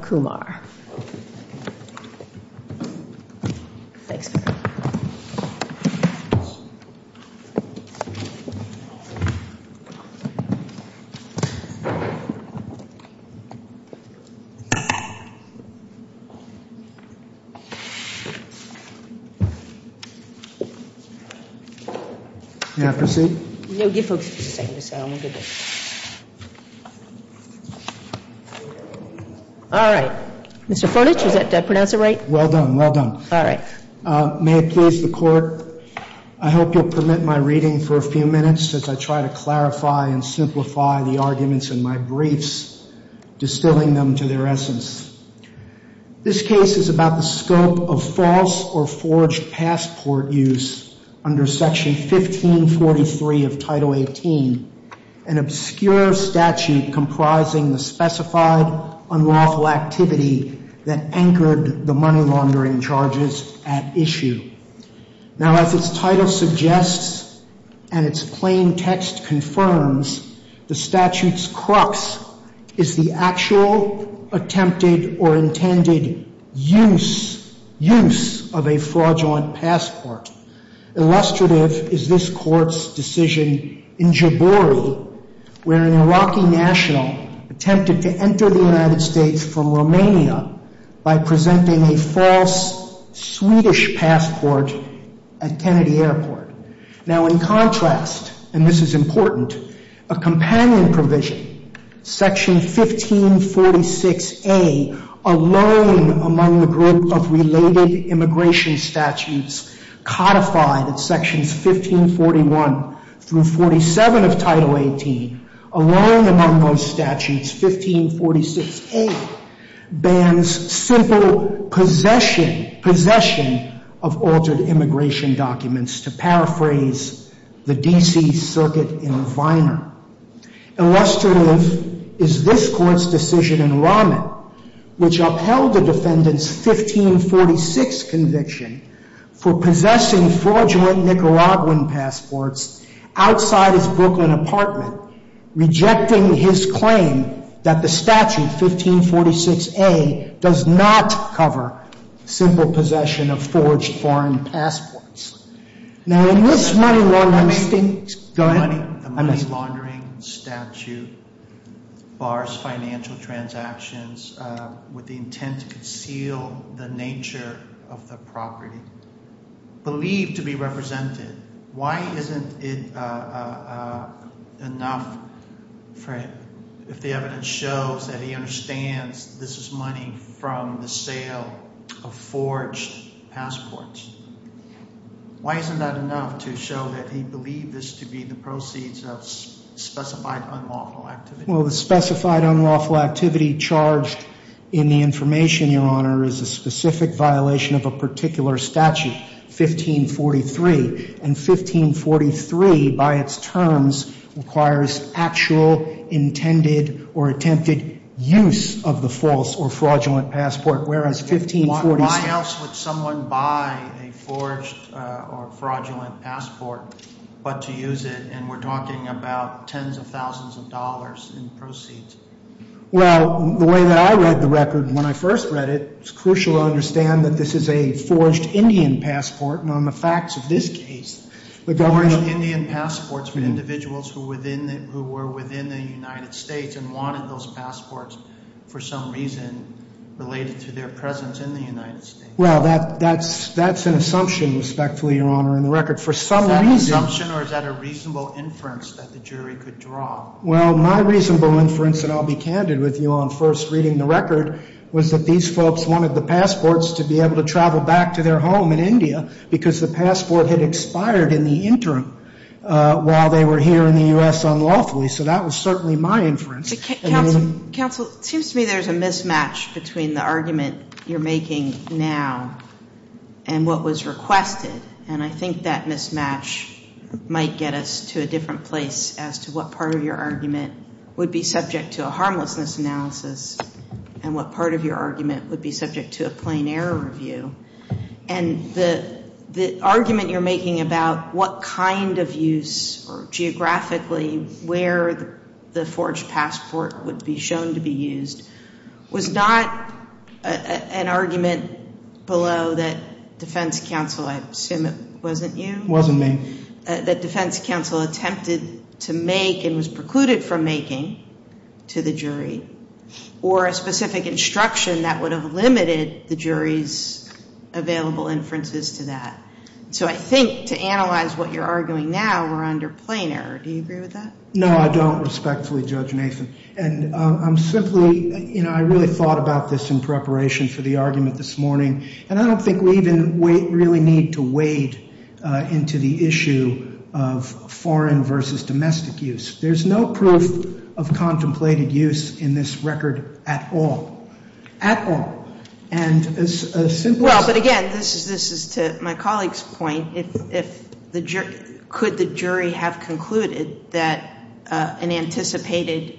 Kumar. Thanks. Can I proceed? No, give folks just a second. I'm going to get this. I'm going to All right. Mr. Furnish, did I pronounce it right? Well done, well done. All right. May it please the Court, I hope you'll permit my reading for a few minutes as I try to clarify and simplify the arguments in my briefs, distilling them to their essence. This case is about the scope of false or forged passport use under Section 1543 of Title 18, an obscure statute comprising the specified use of a passport, and the specified unlawful activity that anchored the money laundering charges at issue. Now, as its title suggests and its plain text confirms, the statute's crux is the actual attempted or intended use, use of a fraudulent passport. Illustrative is this Court's decision in Jabouri, where an Iraqi national attempted to enter the United States from Romania by presenting a false Swedish passport at Kennedy Airport. Now, in contrast, and this is important, a companion provision, Section 1546A, a loan among the group of related immigration statutes codified at Sections 1541 through 47 of Title 18, a loan among those statutes, 1546A, a loan among the group of statutes, 1546A, bans simple possession of altered immigration documents, to paraphrase the D.C. Circuit in Viner. Illustrative is this Court's decision in Rahman, which upheld the defendant's 1546 conviction for possessing fraudulent Nicaraguan passports outside his Brooklyn apartment, rejecting his claim that the statute, 1546A, does not cover simple possession of forged foreign passports. Now, in this money laundering statute, bars financial transactions with the intent to conceal the nature of the property, believed to be represented. Why isn't it enough if the evidence shows that it's a fraudulent transaction? Why isn't it enough if the evidence shows that he understands this is money from the sale of forged passports? Why isn't that enough to show that he believed this to be the proceeds of specified unlawful activity? Well, the specified unlawful activity charged in the information, Your Honor, is a specific violation of a particular statute, 1543. And 1543, by its terms, requires actual intended or attempted infringement of the use of the false or fraudulent passport, whereas 1546... Why else would someone buy a forged or fraudulent passport but to use it? And we're talking about tens of thousands of dollars in proceeds. Well, the way that I read the record when I first read it, it's crucial to understand that this is a forged Indian passport. And the facts of this case, the government... Forged Indian passports for individuals who were within the United States and wanted those passports for some reason related to their presence in the United States. Well, that's an assumption, respectfully, Your Honor, in the record. For some reason... Is that an assumption or is that a reasonable inference that the jury could draw? Well, my reasonable inference, and I'll be candid with you on first reading the record, was that these folks wanted the passports to be able to travel back to their home in India because the passport had expired in the interim while they were here in the U.S. unlawfully. So that was certainly my inference. Counsel, it seems to me there's a mismatch between the argument you're making now and what was requested. And I think that mismatch might get us to a different place as to what part of your argument is subject to a harmlessness analysis and what part of your argument would be subject to a plain error review. And the argument you're making about what kind of use or geographically where the forged passport would be shown to be used was not an argument below that defense counsel, I assume it wasn't you... included from making to the jury or a specific instruction that would have limited the jury's available inferences to that. So I think to analyze what you're arguing now, we're under plain error. Do you agree with that? No, I don't, respectfully, Judge Nathan. And I'm simply... I really thought about this in preparation for the argument this morning. And I don't think we even really need to wade into the issue of foreign versus domestic use. There's no proof of contemplated use in this record at all. At all. And as simple as... Well, but again, this is to my colleague's point. Could the jury have concluded that an anticipated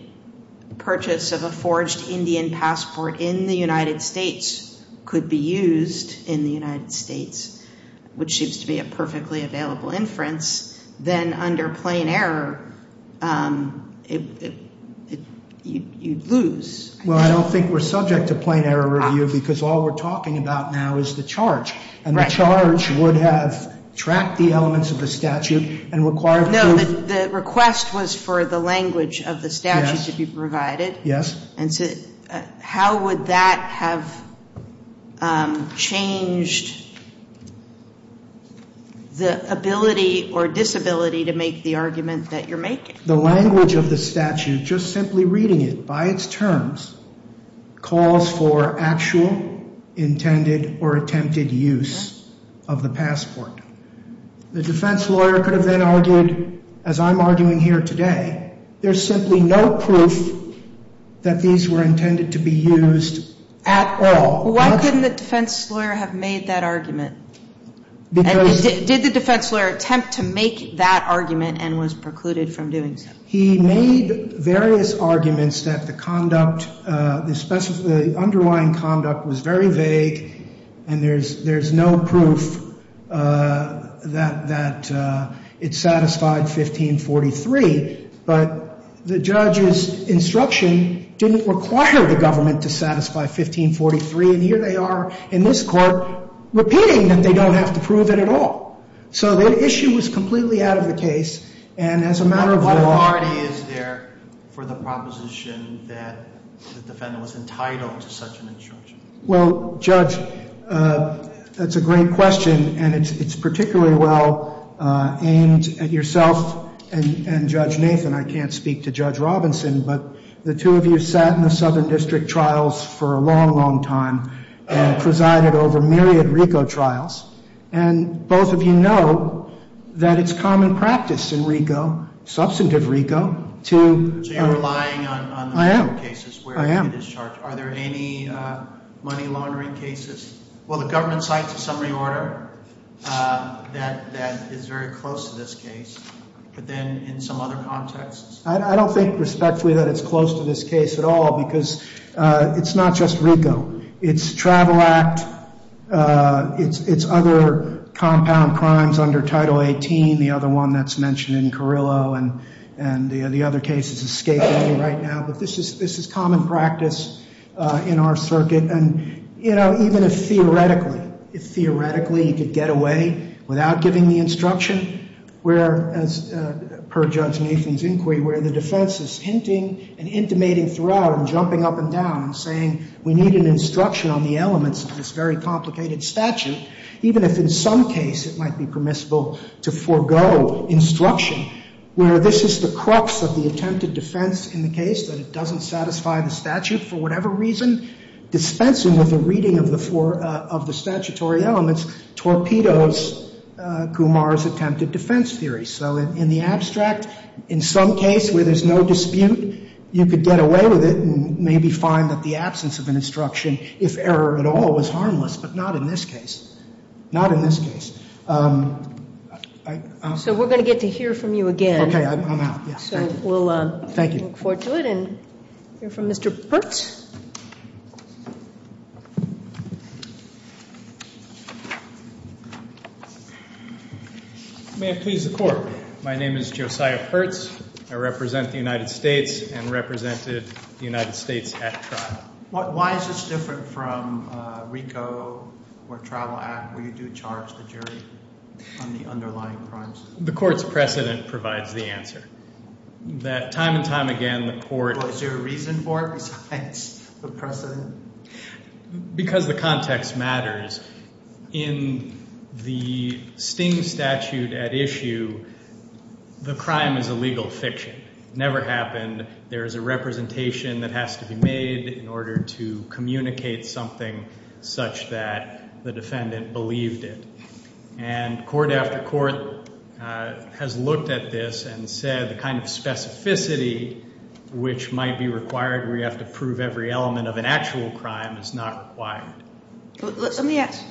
purchase of a forged Indian passport in the United States could be used in the United States, which seems to be a perfectly available inference, then under plain error, you'd lose. Well, I don't think we're subject to plain error review because all we're talking about now is the charge. And the charge would have tracked the elements of the statute and required... No, the request was for the language of the statute to be provided. Yes. And how would that have changed the ability or disability to make the argument that you're making? The language of the statute, just simply reading it by its terms, calls for actual intended or attempted use of the passport. The defense lawyer could have then argued, as I'm arguing here today, there's simply no proof that these were intended to be used at all. Why couldn't the defense lawyer have made that argument? Did the defense lawyer attempt to make that argument and was precluded from doing so? He made various arguments that the conduct, the underlying conduct was very vague, and there's no proof that it satisfied 1543. But the judge's instruction didn't require the government to satisfy 1543, and here they are in this court repeating that they don't have to prove it at all. So the issue was completely out of the case, and as a matter of law... What authority is there for the proposition that the defendant was entitled to such an instruction? Well, Judge, that's a great question, and it's particularly well aimed at yourself and Judge Nathan. I can't speak to Judge Robinson, but the two of you sat in the Southern District Trials for a long, long time and presided over myriad RICO trials, and both of you know that it's common practice in RICO, substantive RICO, to... So you're relying on the RICO cases where it is charged? Are there any money laundering cases? Well, the government cites a summary order that is very close to this case, but then in some other contexts... I don't think respectfully that it's close to this case at all, because it's not just RICO. It's Travel Act, it's other compound crimes under Title 18, the other one that's mentioned in Carrillo, and the other cases escaping me right now, but this is common practice in our circuit. And, you know, even if theoretically, if theoretically you could get away without giving the instruction, where, as per Judge Nathan's inquiry, where the defense is hinting and intimating throughout and jumping up and down and saying we need an instruction on the elements of this very complicated statute, even if in some case it might be permissible to forego instruction, where this is the crux of the attempted defense in the case, that it doesn't satisfy the statute for whatever reason, dispensing with the reading of the statutory elements, torpedoes Kumar's attempted defense theory. So in the abstract, in some case where there's no dispute, you could get away with it and maybe find that the absence of an instruction, if error at all, was harmless, but not in this case. Not in this case. So we're going to get to hear from you again. Okay, I'm out. So we'll look forward to it. Thank you. We'll hear from Mr. Pertz. May it please the Court. My name is Josiah Pertz. I represent the United States and represented the United States at trial. Why is this different from RICO or Trial Act, where you do charge the jury on the underlying crimes? The Court's precedent provides the answer. Time and time again, the Court – Is there a reason for it besides the precedent? Because the context matters. In the Sting statute at issue, the crime is a legal fiction. It never happened. There is a representation that has to be made in order to communicate something such that the defendant believed it. And court after court has looked at this and said the kind of specificity which might be required where you have to prove every element of an actual crime is not required. Let me ask.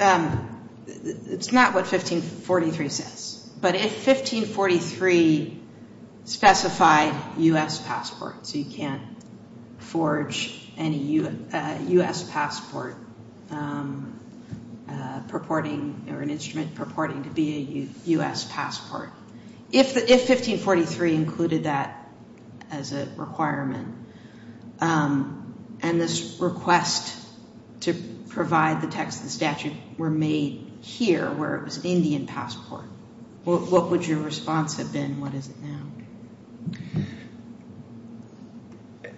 It's not what 1543 says. But if 1543 specified U.S. passport, so you can't forge any U.S. passport purporting or an instrument purporting to be a U.S. passport, if 1543 included that as a requirement and this request to provide the text of the statute were made here, where it was an Indian passport, what would your response have been? What is it now?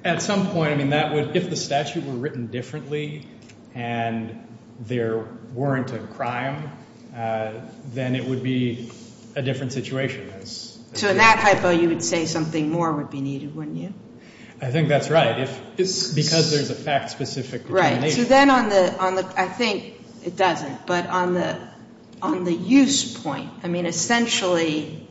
At some point, I mean, that would – if the statute were written differently and there weren't a crime, then it would be a different situation. So in that hypo, you would say something more would be needed, wouldn't you? I think that's right. Because there's a fact-specific determination. Right. So then on the – I think it doesn't. But on the use point, I mean, essentially,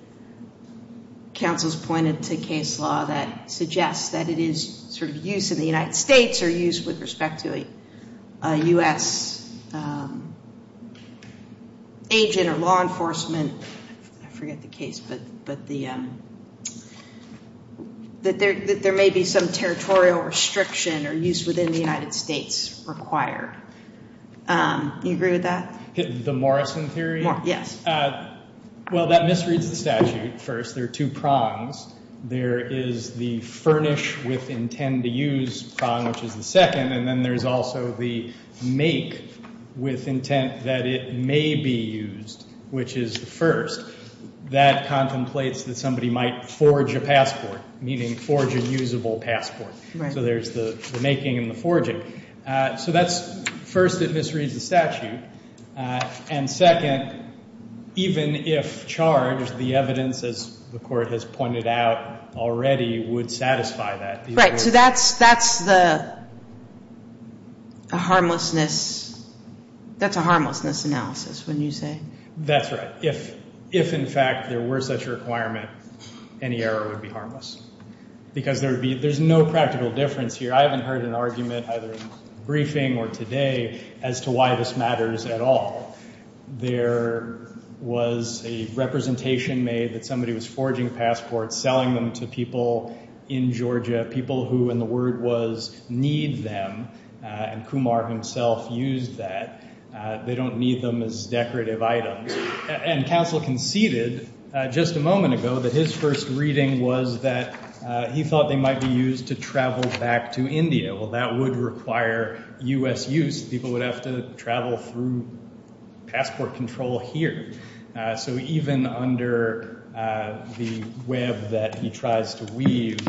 counsel's pointed to case law that suggests that it is sort of used in the United States or used with respect to a U.S. agent or law enforcement. I forget the case, but the – that there may be some territorial restriction or use within the United States required. Do you agree with that? The Morrison theory? Yes. Well, that misreads the statute. First, there are two prongs. There is the furnish with intent to use prong, which is the second, and then there's also the make with intent that it may be used, which is the first. That contemplates that somebody might forge a passport, meaning forge a usable passport. So there's the making and the forging. So that's – first, it misreads the statute. And second, even if charged, the evidence, as the Court has pointed out already, would satisfy that. Right. So that's the – a harmlessness – that's a harmlessness analysis, wouldn't you say? That's right. If, in fact, there were such a requirement, any error would be harmless because there would be – there's no practical difference here. I haven't heard an argument either in the briefing or today as to why this matters at all. There was a representation made that somebody was forging passports, selling them to people in Georgia, people who, and the word was, need them, and Kumar himself used that. They don't need them as decorative items. And counsel conceded just a moment ago that his first reading was that he thought they might be used to travel back to India. Well, that would require U.S. use. People would have to travel through passport control here. So even under the web that he tries to weave,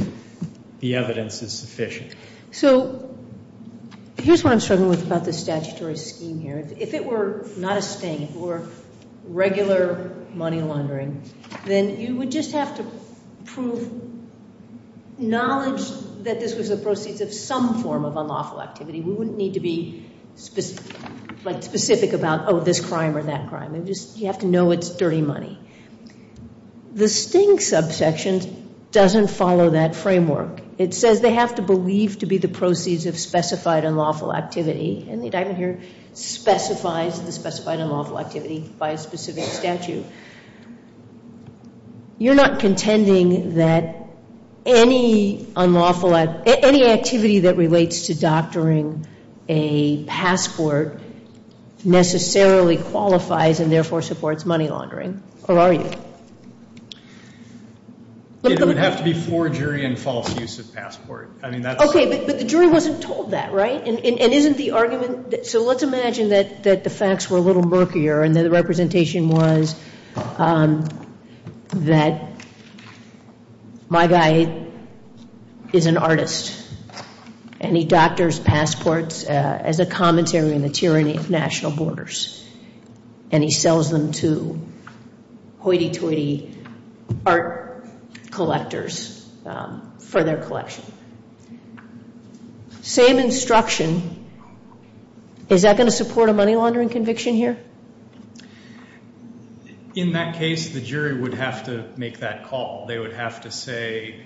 the evidence is sufficient. So here's what I'm struggling with about the statutory scheme here. If it were not a sting, if it were regular money laundering, then you would just have to prove knowledge that this was the proceeds of some form of unlawful activity. We wouldn't need to be, like, specific about, oh, this crime or that crime. You have to know it's dirty money. The sting subsection doesn't follow that framework. It says they have to believe to be the proceeds of specified unlawful activity, and the indictment here specifies the specified unlawful activity by a specific statute. You're not contending that any activity that relates to doctoring a passport necessarily qualifies and therefore supports money laundering, or are you? It would have to be for jury and false use of passport. Okay, but the jury wasn't told that, right? And isn't the argument, so let's imagine that the facts were a little murkier and the representation was that my guy is an artist, and he doctors passports as a commentary on the tyranny of national borders, and he sells them to hoity-toity art collectors for their collection. Same instruction. Is that going to support a money laundering conviction here? In that case, the jury would have to make that call. They would have to say,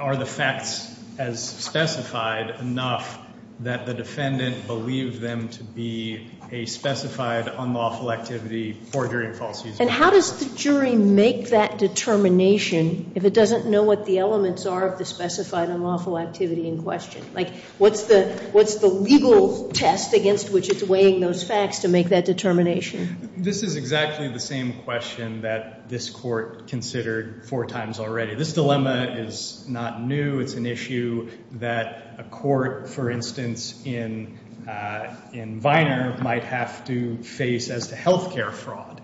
are the facts as specified enough that the defendant believed them to be a specified unlawful activity for jury and false use? And how does the jury make that determination if it doesn't know what the elements are of the specified unlawful activity in question? Like, what's the legal test against which it's weighing those facts to make that determination? This is exactly the same question that this court considered four times already. This dilemma is not new. It's an issue that a court, for instance, in Viner might have to face as to health care fraud.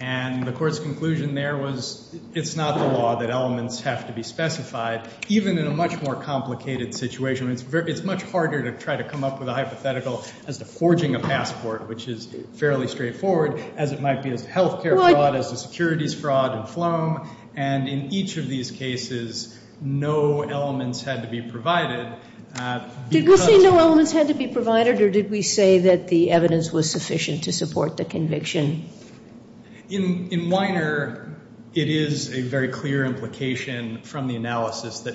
And the court's conclusion there was it's not the law that elements have to be specified, even in a much more complicated situation. It's much harder to try to come up with a hypothetical as to forging a passport, which is fairly straightforward, as it might be as to health care fraud, as to securities fraud and phloem. And in each of these cases, no elements had to be provided. Did we say no elements had to be provided, or did we say that the evidence was sufficient to support the conviction? In Viner, it is a very clear implication from the analysis that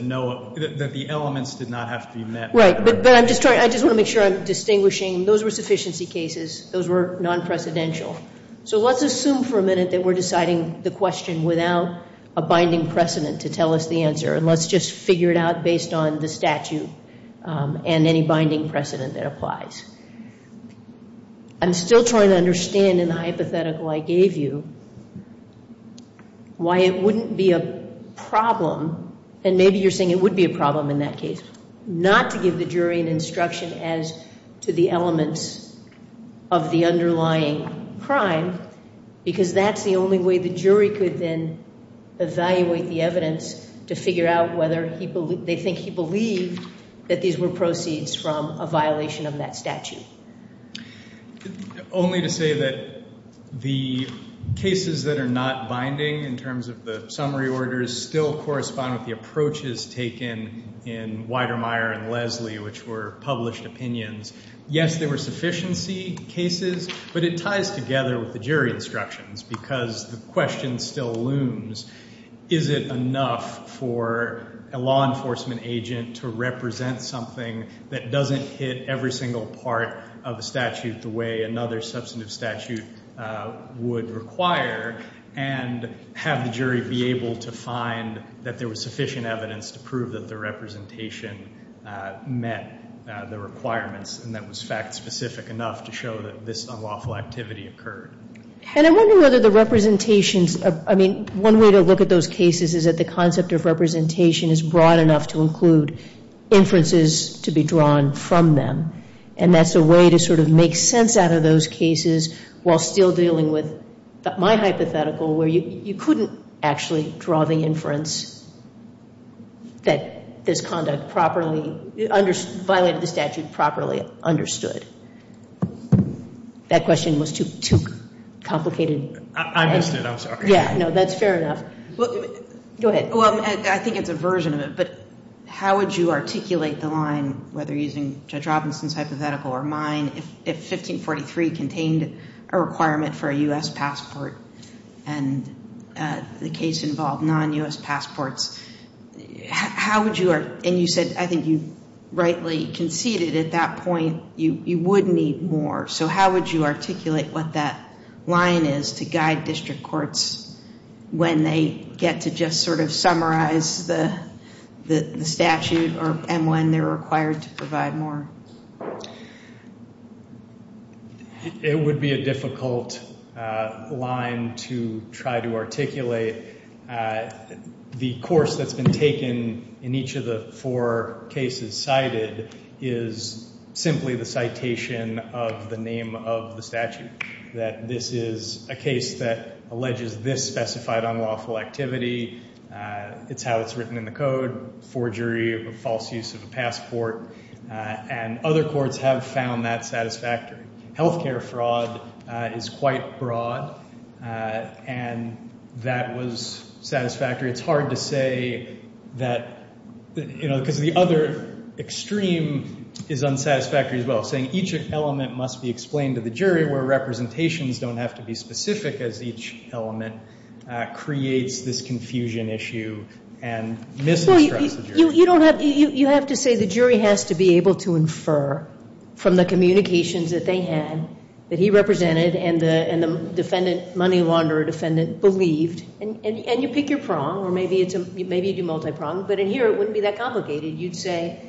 the elements did not have to be met. Right. But I just want to make sure I'm distinguishing. Those were sufficiency cases. Those were non-precedential. So let's assume for a minute that we're deciding the question without a binding precedent to tell us the answer, and let's just figure it out based on the statute and any binding precedent that applies. I'm still trying to understand in the hypothetical I gave you why it wouldn't be a problem, and maybe you're saying it would be a problem in that case, not to give the jury an instruction as to the elements of the underlying crime, because that's the only way the jury could then evaluate the evidence to figure out whether they think he believed that these were proceeds from a violation of that statute. Only to say that the cases that are not binding in terms of the summary orders still correspond with the approaches taken in Weidermeyer and Leslie, which were published opinions. Yes, they were sufficiency cases, but it ties together with the jury instructions because the question still looms. Is it enough for a law enforcement agent to represent something that doesn't hit every single part of a statute the way another substantive statute would require, and have the jury be able to find that there was sufficient evidence to prove that the representation met the requirements and that was fact-specific enough to show that this unlawful activity occurred? And I wonder whether the representations, I mean, one way to look at those cases is that the concept of representation is broad enough to include inferences to be drawn from them, and that's a way to sort of make sense out of those cases while still dealing with my hypothetical where you couldn't actually draw the inference that this conduct violated the statute properly understood. That question was too complicated. I missed it, I'm sorry. Yeah, no, that's fair enough. Go ahead. Well, I think it's a version of it, but how would you articulate the line, whether using Judge Robinson's hypothetical or mine, if 1543 contained a requirement for a U.S. passport and the case involved non-U.S. passports, and you said I think you rightly conceded at that point you would need more, so how would you articulate what that line is to guide district courts when they get to just sort of summarize the statute and when they're required to provide more? It would be a difficult line to try to articulate. The course that's been taken in each of the four cases cited is simply the citation of the name of the statute, that this is a case that alleges this specified unlawful activity, it's how it's written in the code, forgery of a false use of a passport, and other courts have found that satisfactory. Healthcare fraud is quite broad, and that was satisfactory. It's hard to say that, you know, because the other extreme is unsatisfactory as well, saying each element must be explained to the jury where representations don't have to be specific as each element creates this confusion issue and misinterprets the jury. You have to say the jury has to be able to infer from the communications that they had, that he represented and the money launderer defendant believed, and you pick your prong, or maybe you do multi-prong, but in here it wouldn't be that complicated. You'd say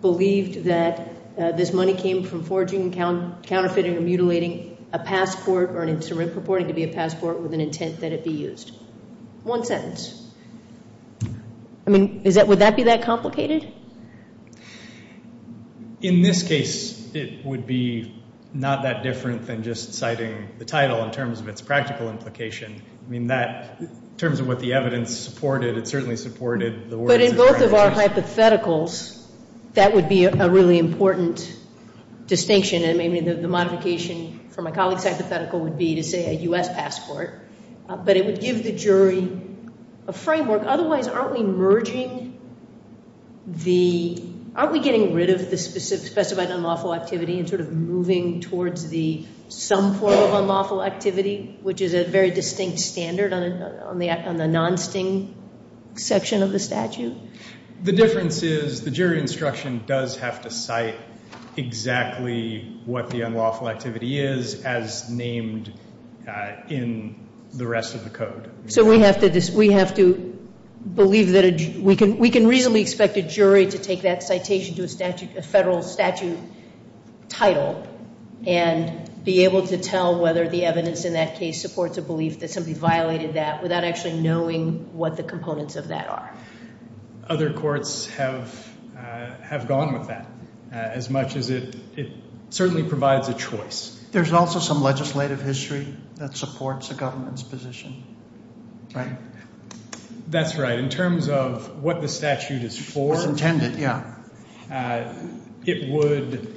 believed that this money came from forging, counterfeiting, or mutilating a passport or purporting to be a passport with an intent that it be used. One sentence. I mean, would that be that complicated? In this case, it would be not that different than just citing the title in terms of its practical implication. I mean, in terms of what the evidence supported, it certainly supported the words of your evidence. But in both of our hypotheticals, that would be a really important distinction, and maybe the modification for my colleague's hypothetical would be to say a U.S. passport, but it would give the jury a framework. Otherwise, aren't we merging the, aren't we getting rid of the specified unlawful activity and sort of moving towards the some form of unlawful activity, which is a very distinct standard on the non-sting section of the statute? The difference is the jury instruction does have to cite exactly what the unlawful activity is as named in the rest of the code. So we have to believe that a, we can reasonably expect a jury to take that citation to a federal statute title and be able to tell whether the evidence in that case supports a belief that somebody violated that without actually knowing what the components of that are. Other courts have gone with that as much as it certainly provides a choice. There's also some legislative history that supports a government's position, right? That's right. In terms of what the statute is for. As intended, yeah. It would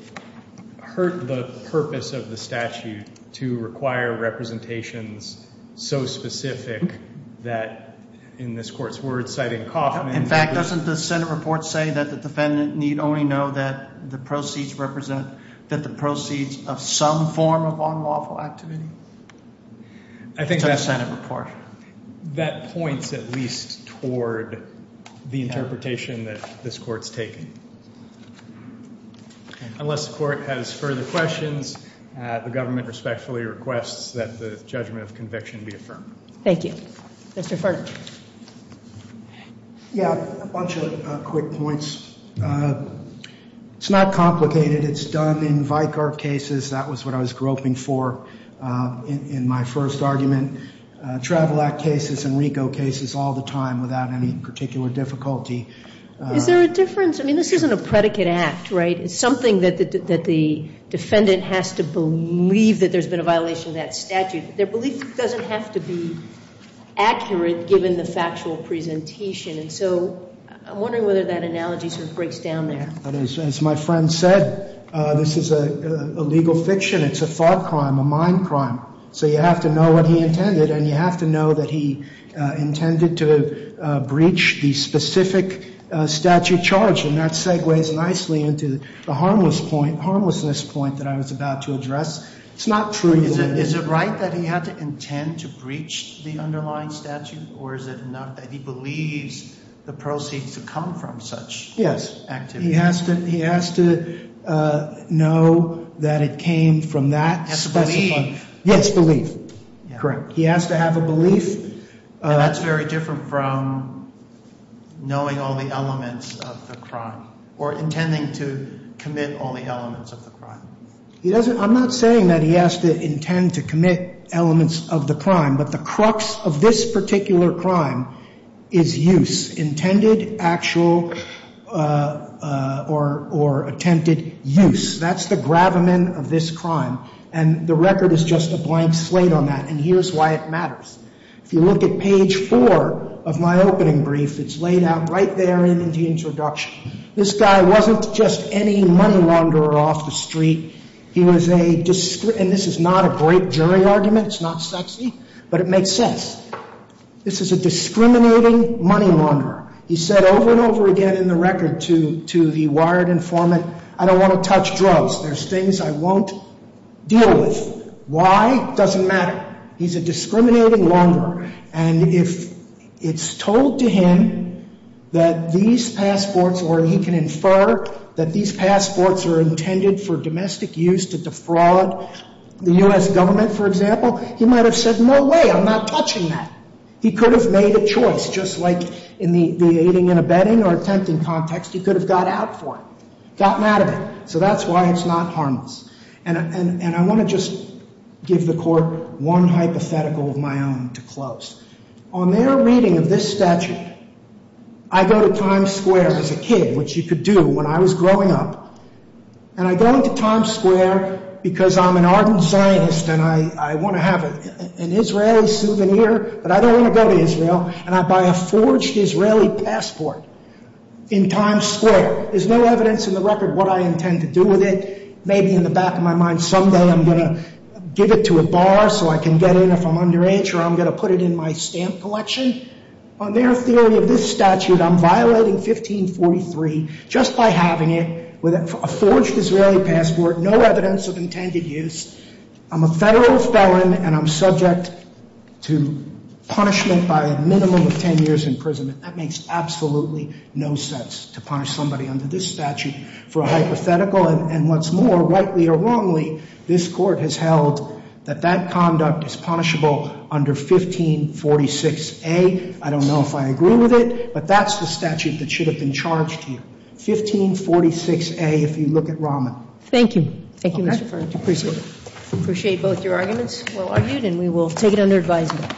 hurt the purpose of the statute to require representations so specific that, in this court's words, citing Kaufman. In fact, doesn't the Senate report say that the defendant need only know that the proceeds represent, that the proceeds of some form of unlawful activity? I think that's a Senate report. That points at least toward the interpretation that this court's taking. Unless the court has further questions, the government respectfully requests that the judgment of conviction be affirmed. Thank you. Mr. Furch. Yeah, a bunch of quick points. It's not complicated. It's done in Vicar cases. That was what I was groping for in my first argument. Travel Act cases and RICO cases all the time without any particular difficulty. Is there a difference? I mean, this isn't a predicate act, right? It's something that the defendant has to believe that there's been a violation of that statute. Their belief doesn't have to be accurate given the factual presentation. And so I'm wondering whether that analogy sort of breaks down there. As my friend said, this is a legal fiction. It's a thought crime, a mind crime. So you have to know what he intended, and you have to know that he intended to breach the specific statute charge. And that segues nicely into the harmlessness point that I was about to address. It's not true. Is it right that he had to intend to breach the underlying statute, or is it not that he believes the proceeds to come from such activity? He has to know that it came from that specified. Yes, belief. Correct. He has to have a belief. That's very different from knowing all the elements of the crime or intending to commit all the elements of the crime. I'm not saying that he has to intend to commit elements of the crime, but the crux of this particular crime is use. Intended, actual, or attempted use. That's the gravamen of this crime. And the record is just a blank slate on that. And here's why it matters. If you look at page four of my opening brief, it's laid out right there in the introduction. This guy wasn't just any money launderer off the street. He was a, and this is not a great jury argument. It's not sexy, but it makes sense. This is a discriminating money launderer. He said over and over again in the record to the wired informant, I don't want to touch drugs. There's things I won't deal with. Why? Doesn't matter. He's a discriminating launderer. And if it's told to him that these passports, or he can infer that these passports are intended for domestic use to defraud the U.S. government, for example, he might have said, no way, I'm not touching that. He could have made a choice, just like in the aiding and abetting or attempting context. He could have got out for it, gotten out of it. So that's why it's not harmless. And I want to just give the court one hypothetical of my own to close. On their reading of this statute, I go to Times Square as a kid, which you could do when I was growing up. And I go into Times Square because I'm an ardent Zionist and I want to have an Israeli souvenir, but I don't want to go to Israel, and I buy a forged Israeli passport in Times Square. There's no evidence in the record what I intend to do with it. Maybe in the back of my mind someday I'm going to give it to a bar so I can get in if I'm underage or I'm going to put it in my stamp collection. On their theory of this statute, I'm violating 1543 just by having it with a forged Israeli passport, no evidence of intended use. I'm a federal felon and I'm subject to punishment by a minimum of 10 years in prison. That makes absolutely no sense to punish somebody under this statute for a hypothetical. And what's more, rightly or wrongly, this Court has held that that conduct is punishable under 1546A. I don't know if I agree with it, but that's the statute that should have been charged to you. 1546A if you look at Rahman. Thank you. Thank you, Mr. Ferguson. I appreciate it. Appreciate both your arguments. Well argued, and we will take it under advisement.